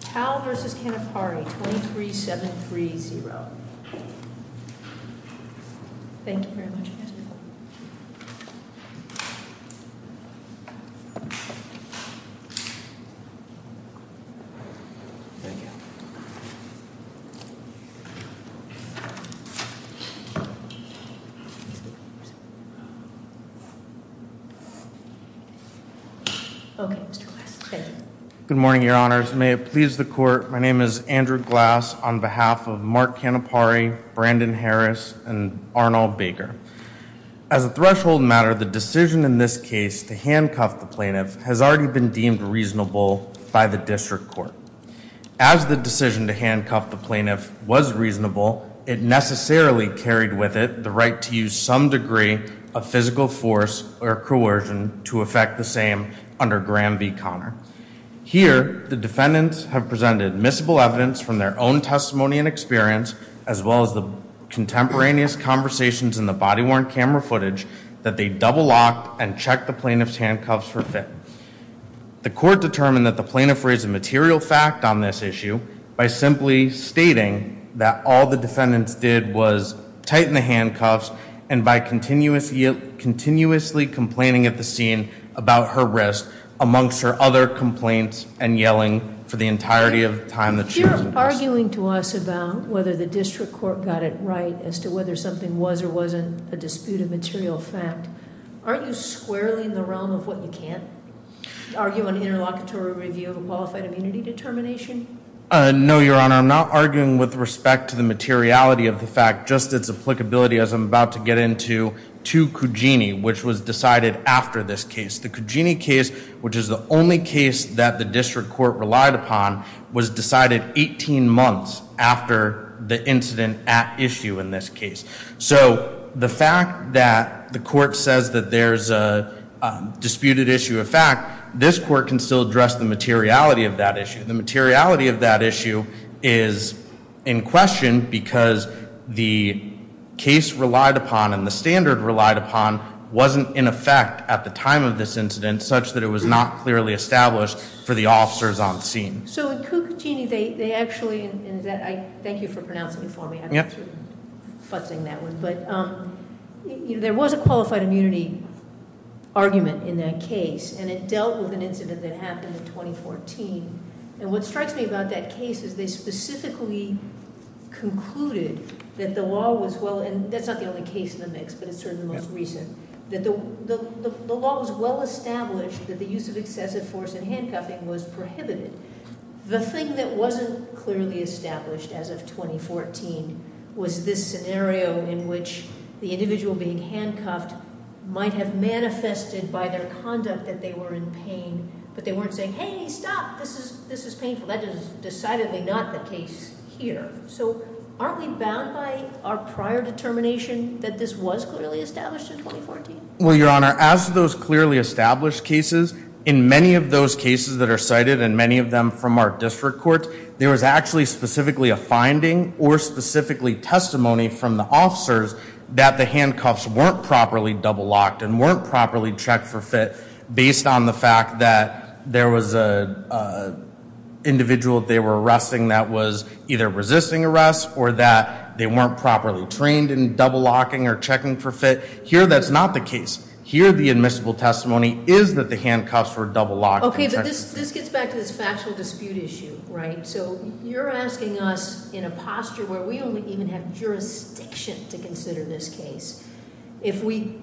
23-730. Thank you very much, Mr. Good morning, your honors. May it please the court. My name is Andrew Glass on behalf of Mark Canepari, Brandon Harris and Arnold Baker. As a threshold matter, the decision in this case to handcuff the plaintiff has already been deemed reasonable by the district court. As the decision to handcuff the plaintiff was reasonable, it necessarily carried with it the right to use some degree of physical force or coercion to affect the same under Graham v. Connor. Here, the defendants have presented admissible evidence from their own testimony and experience, as well as the contemporaneous conversations in the body-worn camera footage that they double-locked and checked the plaintiff's handcuffs for fit. The court determined that the plaintiff raised a material fact on this issue by simply stating that all the defendants did was tighten the handcuffs and by continuously complaining at the scene about her wrist, amongst her other complaints and yelling for the entirety of the time that she was in custody. You're arguing to us about whether the district court got it right as to whether something was or wasn't a dispute of material fact. Aren't you squarely in the realm of what you can't? Are you an interlocutory review of a qualified immunity determination? No, Your Honor. I'm not arguing with respect to the materiality of the fact. Just its applicability, as I'm about to get into, to Cugini, which was decided after this case. The Cugini case, which is the only case that the district court relied upon, was decided 18 months after the incident at issue in this case. So the fact that the court says that there's a disputed issue of fact, this court can still address the materiality of that issue. The materiality of that issue is in question because the case relied upon and the standard relied upon wasn't in effect at the time of this incident such that it was not clearly established for the officers on scene. So at Cugini, they actually, and thank you for pronouncing it for me. I'm sort of futzing that one. But there was a qualified immunity argument in that case, and it dealt with an incident that happened in 2014. And what strikes me about that case is they specifically concluded that the law was well, and that's not the only case in the mix, but it's certainly the most recent, that the law was well established that the use of excessive force in handcuffing was prohibited. The thing that wasn't clearly established as of 2014 was this scenario in which the individual being handcuffed might have manifested by their conduct that they were in pain, but they weren't saying, hey, stop, this is painful. That is decidedly not the case here. So aren't we bound by our prior determination that this was clearly established in 2014? Well, Your Honor, as those clearly established cases, in many of those cases that are cited and many of them from our district courts, there was actually specifically a finding or specifically testimony from the officers that the handcuffs weren't properly double locked and weren't properly checked for fit based on the fact that there was an individual they were arresting that was either resisting arrest or that they weren't properly trained in double locking or checking for fit. Here, that's not the case. Here, the admissible testimony is that the handcuffs were double locked. Okay, but this gets back to this factual dispute issue, right? So you're asking us in a posture where we only even have jurisdiction to consider this case. If we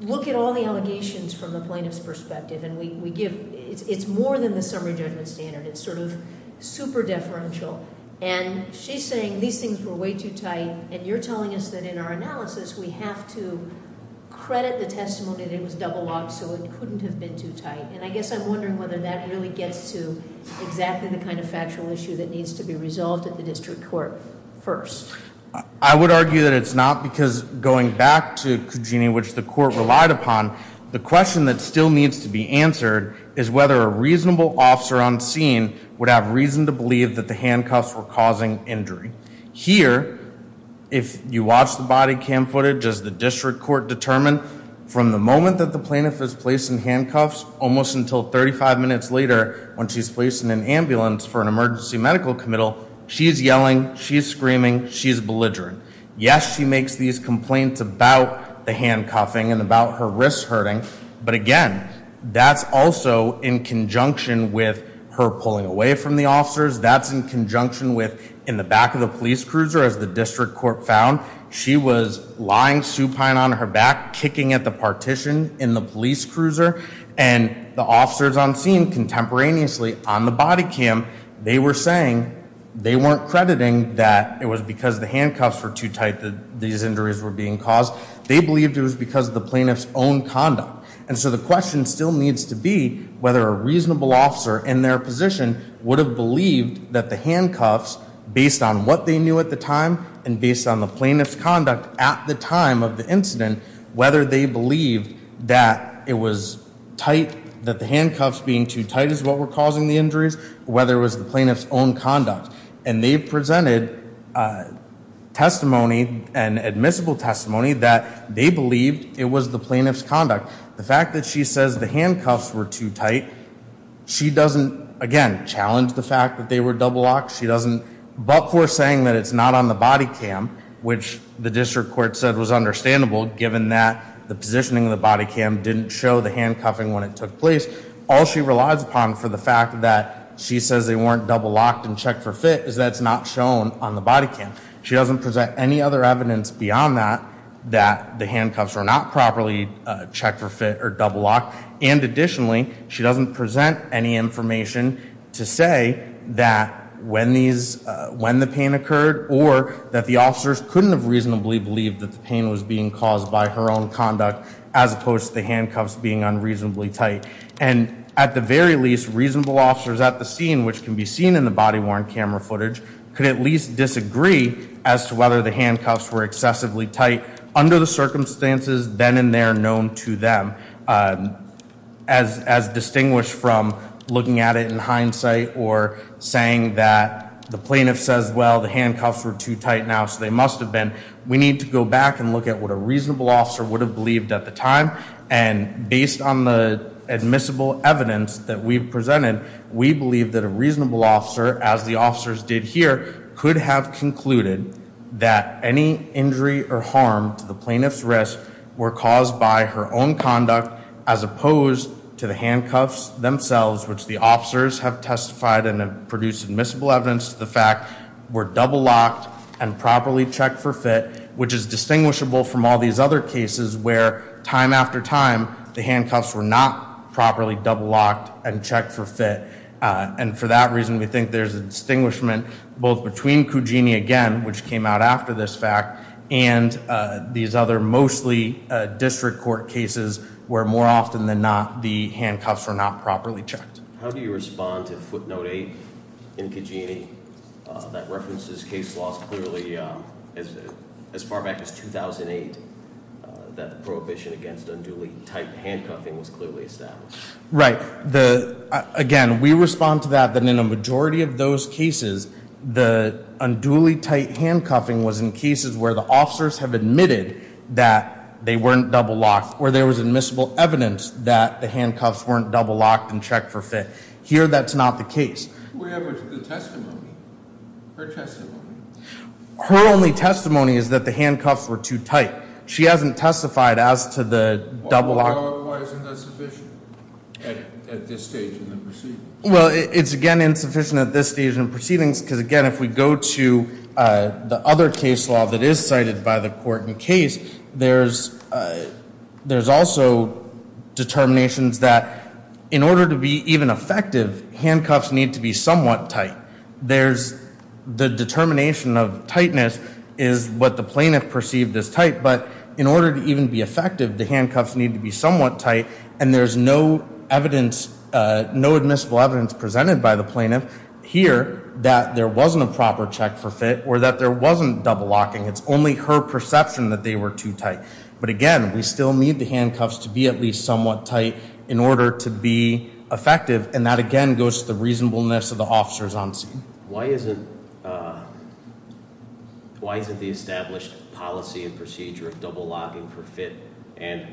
look at all the allegations from the plaintiff's perspective and we give, it's more than the summary judgment standard. It's sort of super deferential. And she's saying these things were way too tight, and you're telling us that in our analysis, we have to credit the testimony that it was double locked so it couldn't have been too tight. And I guess I'm wondering whether that really gets to exactly the kind of factual issue that needs to be resolved at the district court first. I would argue that it's not because going back to Cugini, which the court relied upon, the question that still needs to be answered is whether a reasonable officer on scene would have reason to believe that the handcuffs were causing injury. Here, if you watch the body cam footage, as the district court determined, from the moment that the plaintiff is placed in handcuffs almost until 35 minutes later when she's placed in an ambulance for an emergency medical committal, she's yelling, she's screaming, she's belligerent. Yes, she makes these complaints about the handcuffing and about her wrist hurting. But again, that's also in conjunction with her pulling away from the officers. That's in conjunction with in the back of the police cruiser, as the district court found. She was lying supine on her back, kicking at the partition in the police cruiser. And the officers on scene contemporaneously on the body cam, they were saying they weren't crediting that it was because the handcuffs were too tight that these injuries were being caused. They believed it was because of the plaintiff's own conduct. And so the question still needs to be whether a reasonable officer in their position would have believed that the handcuffs, based on what they knew at the time and based on the plaintiff's conduct at the time of the incident, whether they believed that it was tight, that the handcuffs being too tight is what were causing the injuries, or whether it was the plaintiff's own conduct. And they presented testimony and admissible testimony that they believed it was the plaintiff's conduct. The fact that she says the handcuffs were too tight, she doesn't, again, challenge the fact that they were double locked. She doesn't, but for saying that it's not on the body cam, which the district court said was understandable, given that the positioning of the body cam didn't show the handcuffing when it took place, all she relies upon for the fact that she says they weren't double locked and checked for fit is that it's not shown on the body cam. She doesn't present any other evidence beyond that, that the handcuffs were not properly checked for fit or double locked. And additionally, she doesn't present any information to say that when the pain occurred, or that the officers couldn't have reasonably believed that the pain was being caused by her own conduct, as opposed to the handcuffs being unreasonably tight. And at the very least, reasonable officers at the scene, which can be seen in the body-worn camera footage, could at least disagree as to whether the handcuffs were excessively tight under the circumstances then and there known to them. As distinguished from looking at it in hindsight or saying that the plaintiff says, well, the handcuffs were too tight now, so they must have been, we need to go back and look at what a reasonable officer would have believed at the time. And based on the admissible evidence that we've presented, we believe that a reasonable officer, as the officers did here, could have concluded that any injury or harm to the plaintiff's wrist were caused by her own conduct, as opposed to the handcuffs themselves, which the officers have testified and have produced admissible evidence to the fact, were double locked and properly checked for fit, which is distinguishable from all these other cases where time after time, the handcuffs were not properly double locked and checked for fit. And for that reason, we think there's a distinguishment both between Cugini again, which came out after this fact, and these other mostly district court cases, where more often than not, the handcuffs were not properly checked. How do you respond to footnote eight in Cugini that references case laws clearly as far back as 2008, that the prohibition against unduly tight handcuffing was clearly established? Right. Again, we respond to that, that in a majority of those cases, the unduly tight handcuffing was in cases where the officers have admitted that they weren't double locked, or there was admissible evidence that the handcuffs weren't double locked and checked for fit. Here, that's not the case. What happened to the testimony? Her testimony? Her only testimony is that the handcuffs were too tight. She hasn't testified as to the double lock. Why isn't that sufficient at this stage in the proceedings? Well, it's, again, insufficient at this stage in the proceedings, because, again, if we go to the other case law that is cited by the court in case, there's also determinations that in order to be even effective, handcuffs need to be somewhat tight. There's the determination of tightness is what the plaintiff perceived as tight, but in order to even be effective, the handcuffs need to be somewhat tight, and there's no evidence, no admissible evidence presented by the plaintiff here that there wasn't a proper check for fit or that there wasn't double locking. It's only her perception that they were too tight. But, again, we still need the handcuffs to be at least somewhat tight in order to be effective, and that, again, goes to the reasonableness of the officers on scene. Why isn't the established policy and procedure of double locking for fit and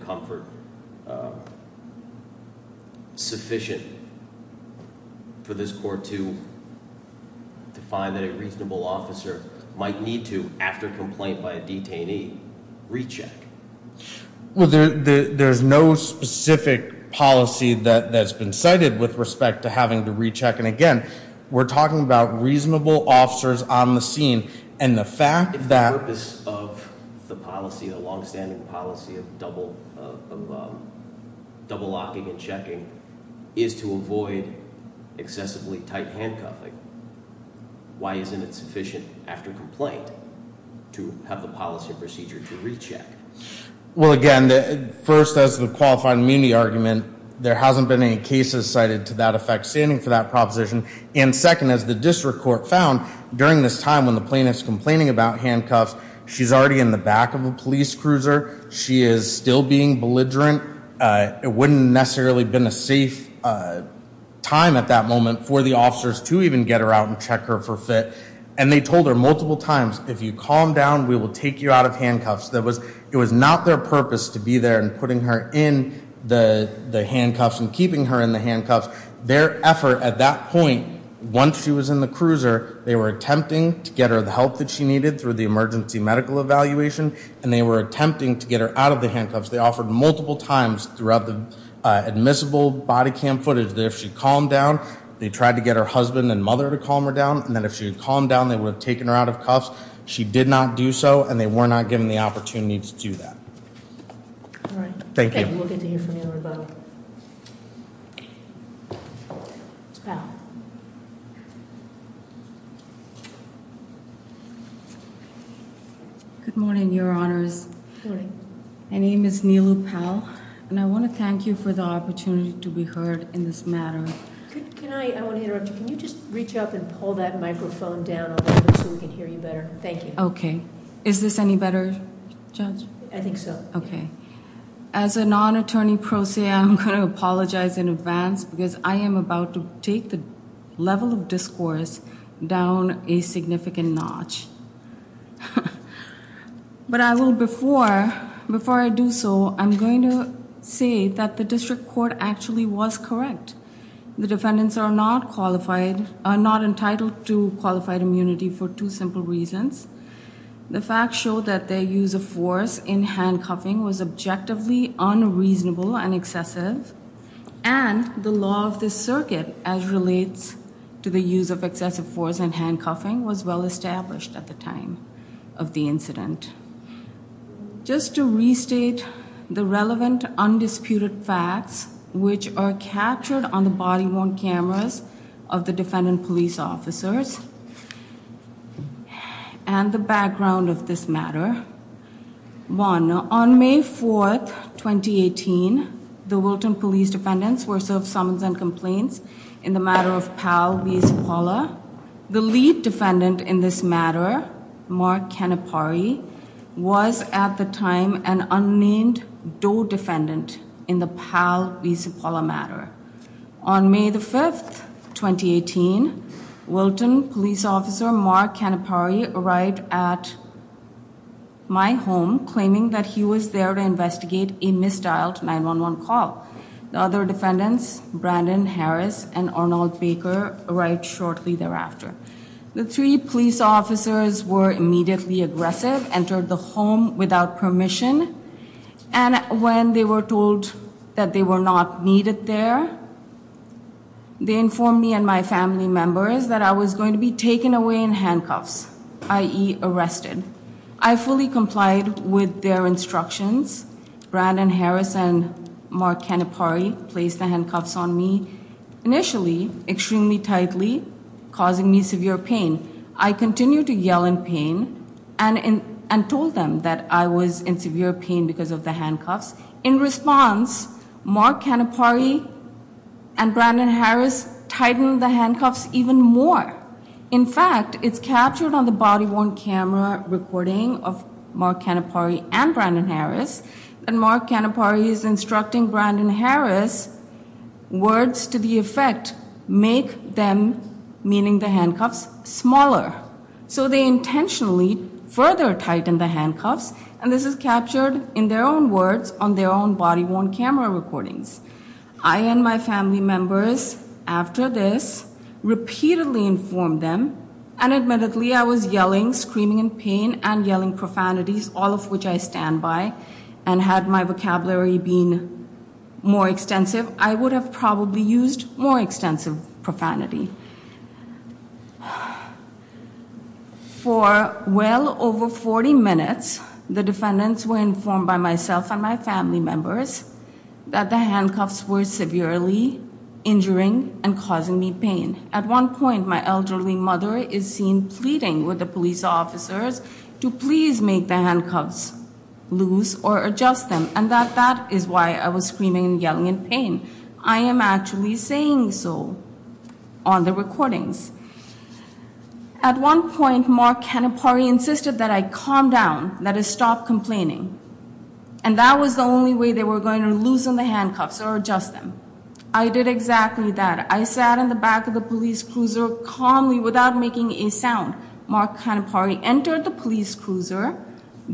comfort sufficient for this court to find that a reasonable officer might need to, after complaint by a detainee, recheck? Well, there's no specific policy that's been cited with respect to having to recheck, and, again, we're talking about reasonable officers on the scene, and the fact that- The purpose of the policy, the longstanding policy of double locking and checking, is to avoid excessively tight handcuffing. Why isn't it sufficient, after complaint, to have the policy and procedure to recheck? Well, again, first, as to the qualified immunity argument, there hasn't been any cases cited to that effect standing for that proposition. And, second, as the district court found, during this time when the plaintiff's complaining about handcuffs, she's already in the back of a police cruiser. She is still being belligerent. It wouldn't necessarily have been a safe time at that moment for the officers to even get her out and check her for fit. And they told her multiple times, if you calm down, we will take you out of handcuffs. It was not their purpose to be there and putting her in the handcuffs and keeping her in the handcuffs. Their effort at that point, once she was in the cruiser, they were attempting to get her the help that she needed through the emergency medical evaluation, and they were attempting to get her out of the handcuffs. They offered multiple times throughout the admissible body cam footage that if she calmed down, they tried to get her husband and mother to calm her down, and then if she had calmed down, they would have taken her out of cuffs. She did not do so, and they were not given the opportunity to do that. All right. Thank you. Okay. We'll get to hear from you in a moment. Ms. Powell. Good morning, Your Honors. Good morning. My name is Neelu Powell, and I want to thank you for the opportunity to be heard in this matter. I want to interrupt you. Can you just reach up and pull that microphone down a little bit so we can hear you better? Thank you. Okay. Is this any better, Judge? I think so. Okay. As a non-attorney pro se, I'm going to apologize in advance because I am about to take the level of discourse down a significant notch. But before I do so, I'm going to say that the district court actually was correct. The defendants are not entitled to qualified immunity for two simple reasons. The facts show that their use of force in handcuffing was objectively unreasonable and excessive, and the law of the circuit as relates to the use of excessive force in handcuffing was well established at the time of the incident. Just to restate the relevant undisputed facts, which are captured on the body-worn cameras of the defendant police officers, and the background of this matter. One, on May 4th, 2018, the Wilton police defendants were served summons and complaints in the matter of Pal Visapala. The lead defendant in this matter, Mark Canapari, was at the time an unnamed DOE defendant in the Pal Visapala matter. On May 5th, 2018, Wilton police officer Mark Canapari arrived at my home claiming that he was there to investigate a misdialed 911 call. The other defendants, Brandon Harris and Arnold Baker, arrived shortly thereafter. The three police officers were immediately aggressive, entered the home without permission, and when they were told that they were not needed there, they informed me and my family members that I was going to be taken away in handcuffs, i.e. arrested. I fully complied with their instructions. Brandon Harris and Mark Canapari placed the handcuffs on me, initially extremely tightly, causing me severe pain. I continued to yell in pain and told them that I was in severe pain because of the handcuffs. In response, Mark Canapari and Brandon Harris tightened the handcuffs even more. In fact, it's captured on the body-worn camera recording of Mark Canapari and Brandon Harris that Mark Canapari is instructing Brandon Harris, words to the effect make them, meaning the handcuffs, smaller. So they intentionally further tighten the handcuffs, and this is captured in their own words on their own body-worn camera recordings. I and my family members, after this, repeatedly informed them, and admittedly I was yelling, screaming in pain and yelling profanities, all of which I stand by, and had my vocabulary been more extensive, I would have probably used more extensive profanity. For well over 40 minutes, the defendants were informed by myself and my family members that the handcuffs were severely injuring and causing me pain. At one point, my elderly mother is seen pleading with the police officers to please make the handcuffs loose or adjust them, and that that is why I was screaming and yelling in pain. I am actually saying so on the recordings. At one point, Mark Canapari insisted that I calm down, that I stop complaining, and that was the only way they were going to loosen the handcuffs or adjust them. I did exactly that. I sat in the back of the police cruiser calmly without making a sound. Mark Canapari entered the police cruiser,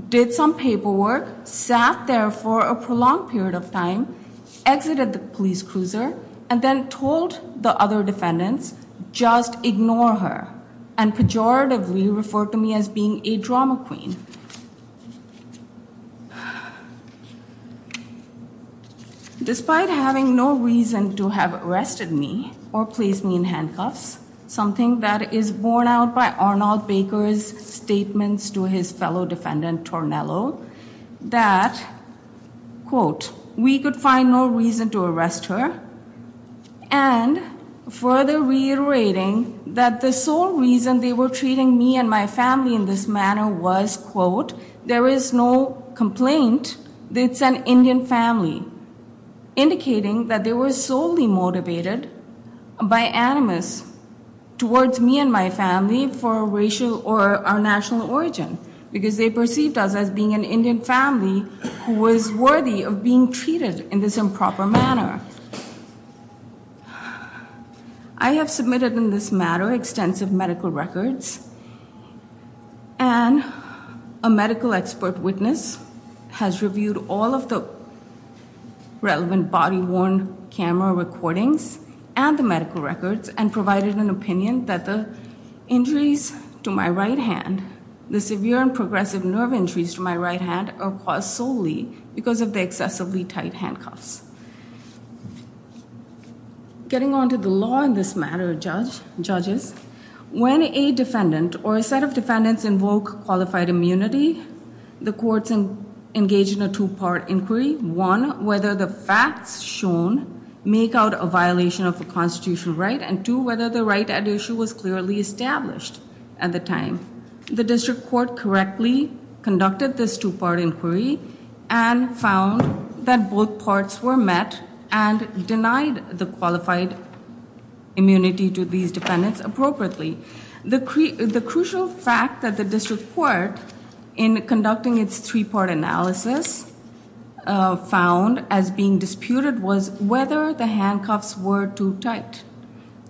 did some paperwork, sat there for a prolonged period of time, exited the police cruiser, and then told the other defendants, just ignore her, and pejoratively referred to me as being a drama queen. Despite having no reason to have arrested me or placed me in handcuffs, something that is borne out by Arnold Baker's statements to his fellow defendant, Tornello, that, quote, we could find no reason to arrest her, and further reiterating that the sole reason they were treating me and my family in this manner was, quote, there is no complaint, it's an Indian family, indicating that they were solely motivated by animus towards me and my family for racial or our national origin, because they perceived us as being an Indian family who was worthy of being treated in this improper manner. I have submitted in this matter extensive medical records, and a medical expert witness has reviewed all of the relevant body-worn camera recordings and the medical records and provided an opinion that the injuries to my right hand, the severe and progressive nerve injuries to my right hand are caused solely because of the excessively tight handcuffs. Getting on to the law in this matter, judges, when a defendant or a set of defendants invoke qualified immunity, the courts engage in a two-part inquiry. One, whether the facts shown make out a violation of the constitutional right, and two, whether the right at issue was clearly established at the time. The district court correctly conducted this two-part inquiry and found that both parts were met and denied the qualified immunity to these defendants appropriately. The crucial fact that the district court, in conducting its three-part analysis, found as being disputed was whether the handcuffs were too tight.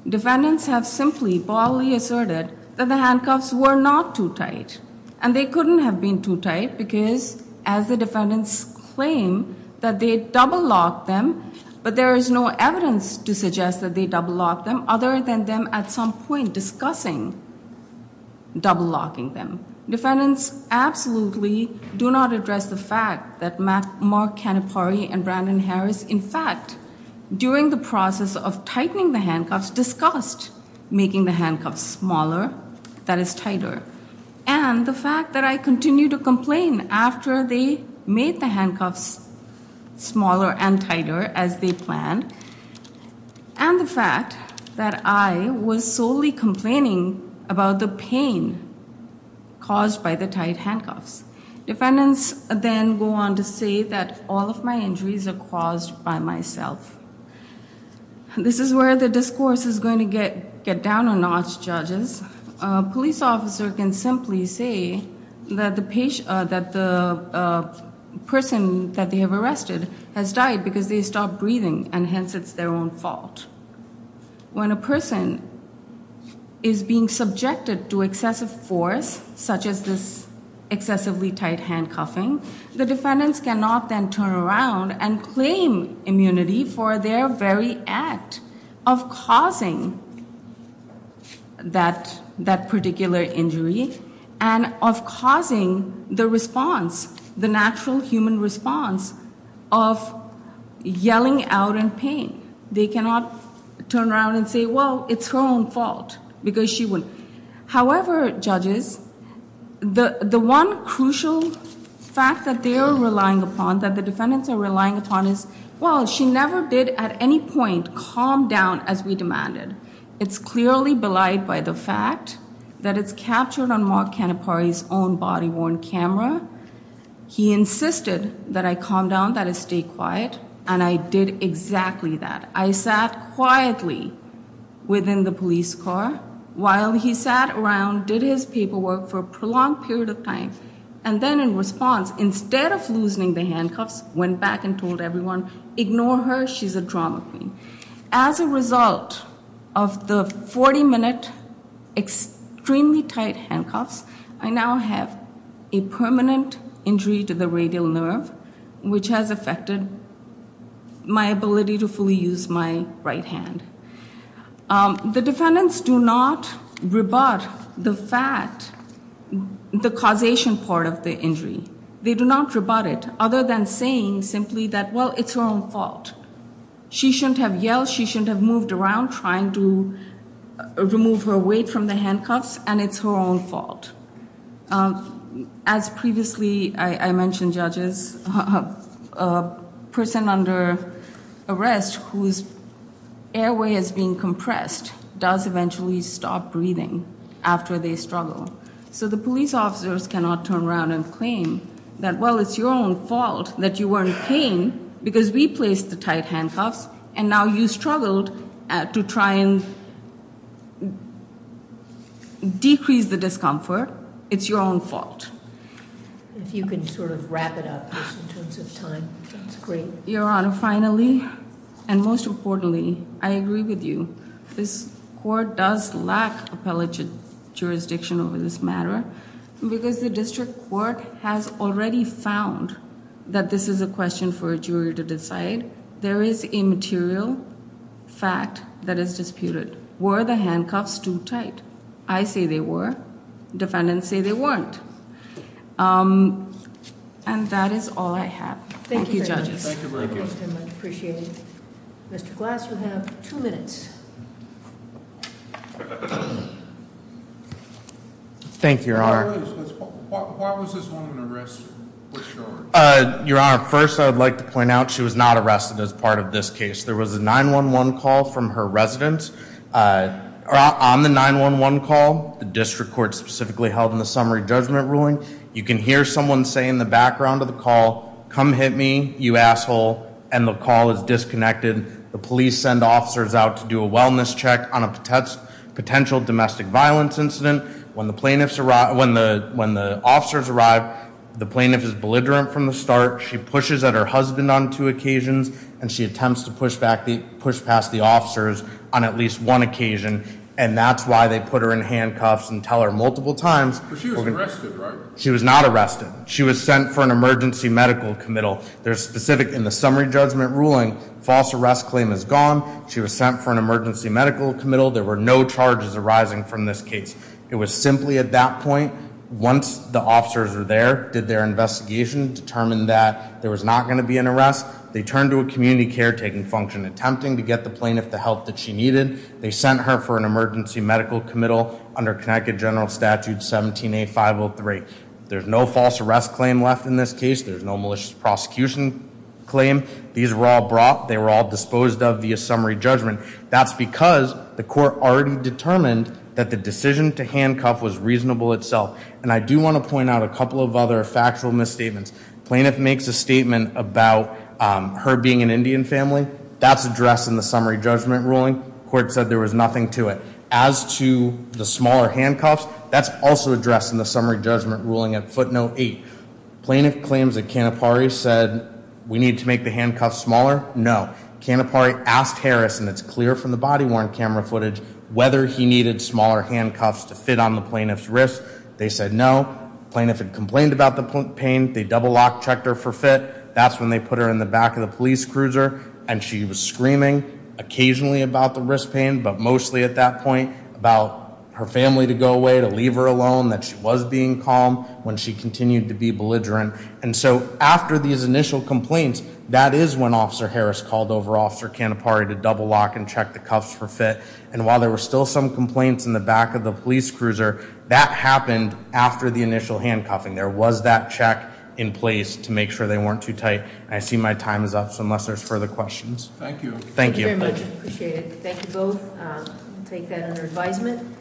Defendants have simply boldly asserted that the handcuffs were not too tight, and they couldn't have been too tight because, as the defendants claim, that they double-locked them, but there is no evidence to suggest that they double-locked them other than them at some point discussing double-locking them. Defendants absolutely do not address the fact that Mark Canepari and Brandon Harris, in fact, during the process of tightening the handcuffs, discussed making the handcuffs smaller, that is tighter. And the fact that I continued to complain after they made the handcuffs smaller and tighter as they planned, and the fact that I was solely complaining about the pain caused by the tight handcuffs. Defendants then go on to say that all of my injuries are caused by myself. This is where the discourse is going to get down a notch, judges. A police officer can simply say that the person that they have arrested has died because they stopped breathing, and hence it's their own fault. When a person is being subjected to excessive force, such as this excessively tight handcuffing, the defendants cannot then turn around and claim immunity for their very act of causing that particular injury and of causing the response, the natural human response of yelling out in pain. They cannot turn around and say, well, it's her own fault because she wouldn't. However, judges, the one crucial fact that they are relying upon, that the defendants are relying upon, is, well, she never did at any point calm down as we demanded. It's clearly belied by the fact that it's captured on Mark Canepari's own body-worn camera. He insisted that I calm down, that I stay quiet, and I did exactly that. I sat quietly within the police car while he sat around, did his paperwork for a prolonged period of time, and then in response, instead of loosening the handcuffs, went back and told everyone, ignore her, she's a drama queen. As a result of the 40-minute extremely tight handcuffs, I now have a permanent injury to the radial nerve, which has affected my ability to fully use my right hand. The defendants do not rebut the fact, the causation part of the injury. They do not rebut it other than saying simply that, well, it's her own fault. She shouldn't have yelled. She shouldn't have moved around trying to remove her weight from the handcuffs, and it's her own fault. As previously I mentioned, judges, a person under arrest whose airway has been compressed does eventually stop breathing after they struggle. So the police officers cannot turn around and claim that, well, it's your own fault that you weren't paying because we placed the tight handcuffs, and now you struggled to try and decrease the discomfort. It's your own fault. If you can sort of wrap it up just in terms of time, that's great. Your Honor, finally, and most importantly, I agree with you. This court does lack appellate jurisdiction over this matter, because the district court has already found that this is a question for a jury to decide. There is a material fact that is disputed. Were the handcuffs too tight? I say they were. Defendants say they weren't. And that is all I have. Thank you, judges. Thank you very much. Appreciate it. Mr. Glass, you have two minutes. Thank you, Your Honor. Why was this woman arrested? Your Honor, first I would like to point out she was not arrested as part of this case. There was a 911 call from her residence. On the 911 call, the district court specifically held in the summary judgment ruling, you can hear someone say in the background of the call, come hit me, you asshole. And the call is disconnected. The police send officers out to do a wellness check on a potential domestic violence incident. When the officers arrive, the plaintiff is belligerent from the start. She pushes at her husband on two occasions, and she attempts to push past the officers on at least one occasion. And that's why they put her in handcuffs and tell her multiple times. But she was arrested, right? She was not arrested. She was sent for an emergency medical committal. There's specific, in the summary judgment ruling, false arrest claim is gone. She was sent for an emergency medical committal. There were no charges arising from this case. It was simply at that point, once the officers were there, did their investigation, determined that there was not going to be an arrest. They turned to a community caretaking function, attempting to get the plaintiff the help that she needed. They sent her for an emergency medical committal under Connecticut General Statute 17A503. There's no false arrest claim left in this case. There's no malicious prosecution claim. These were all brought. They were all disposed of via summary judgment. That's because the court already determined that the decision to handcuff was reasonable itself. And I do want to point out a couple of other factual misstatements. Plaintiff makes a statement about her being an Indian family. That's addressed in the summary judgment ruling. Court said there was nothing to it. As to the smaller handcuffs, that's also addressed in the summary judgment ruling at footnote eight. Plaintiff claims that Canapari said we need to make the handcuffs smaller. No. Canapari asked Harris, and it's clear from the body worn camera footage, whether he needed smaller handcuffs to fit on the plaintiff's wrist. They said no. Plaintiff had complained about the pain. They double locked, checked her for fit. That's when they put her in the back of the police cruiser, and she was screaming occasionally about the wrist pain, but mostly at that point about her family to go away, to leave her alone, that she was being calm when she continued to be belligerent. And so after these initial complaints, that is when Officer Harris called over Officer Canapari to double lock and check the cuffs for fit. And while there were still some complaints in the back of the police cruiser, that happened after the initial handcuffing. There was that check in place to make sure they weren't too tight. And I see my time is up, so unless there's further questions. Thank you. Thank you very much. Appreciate it. Thank you both. We'll take that under advisement.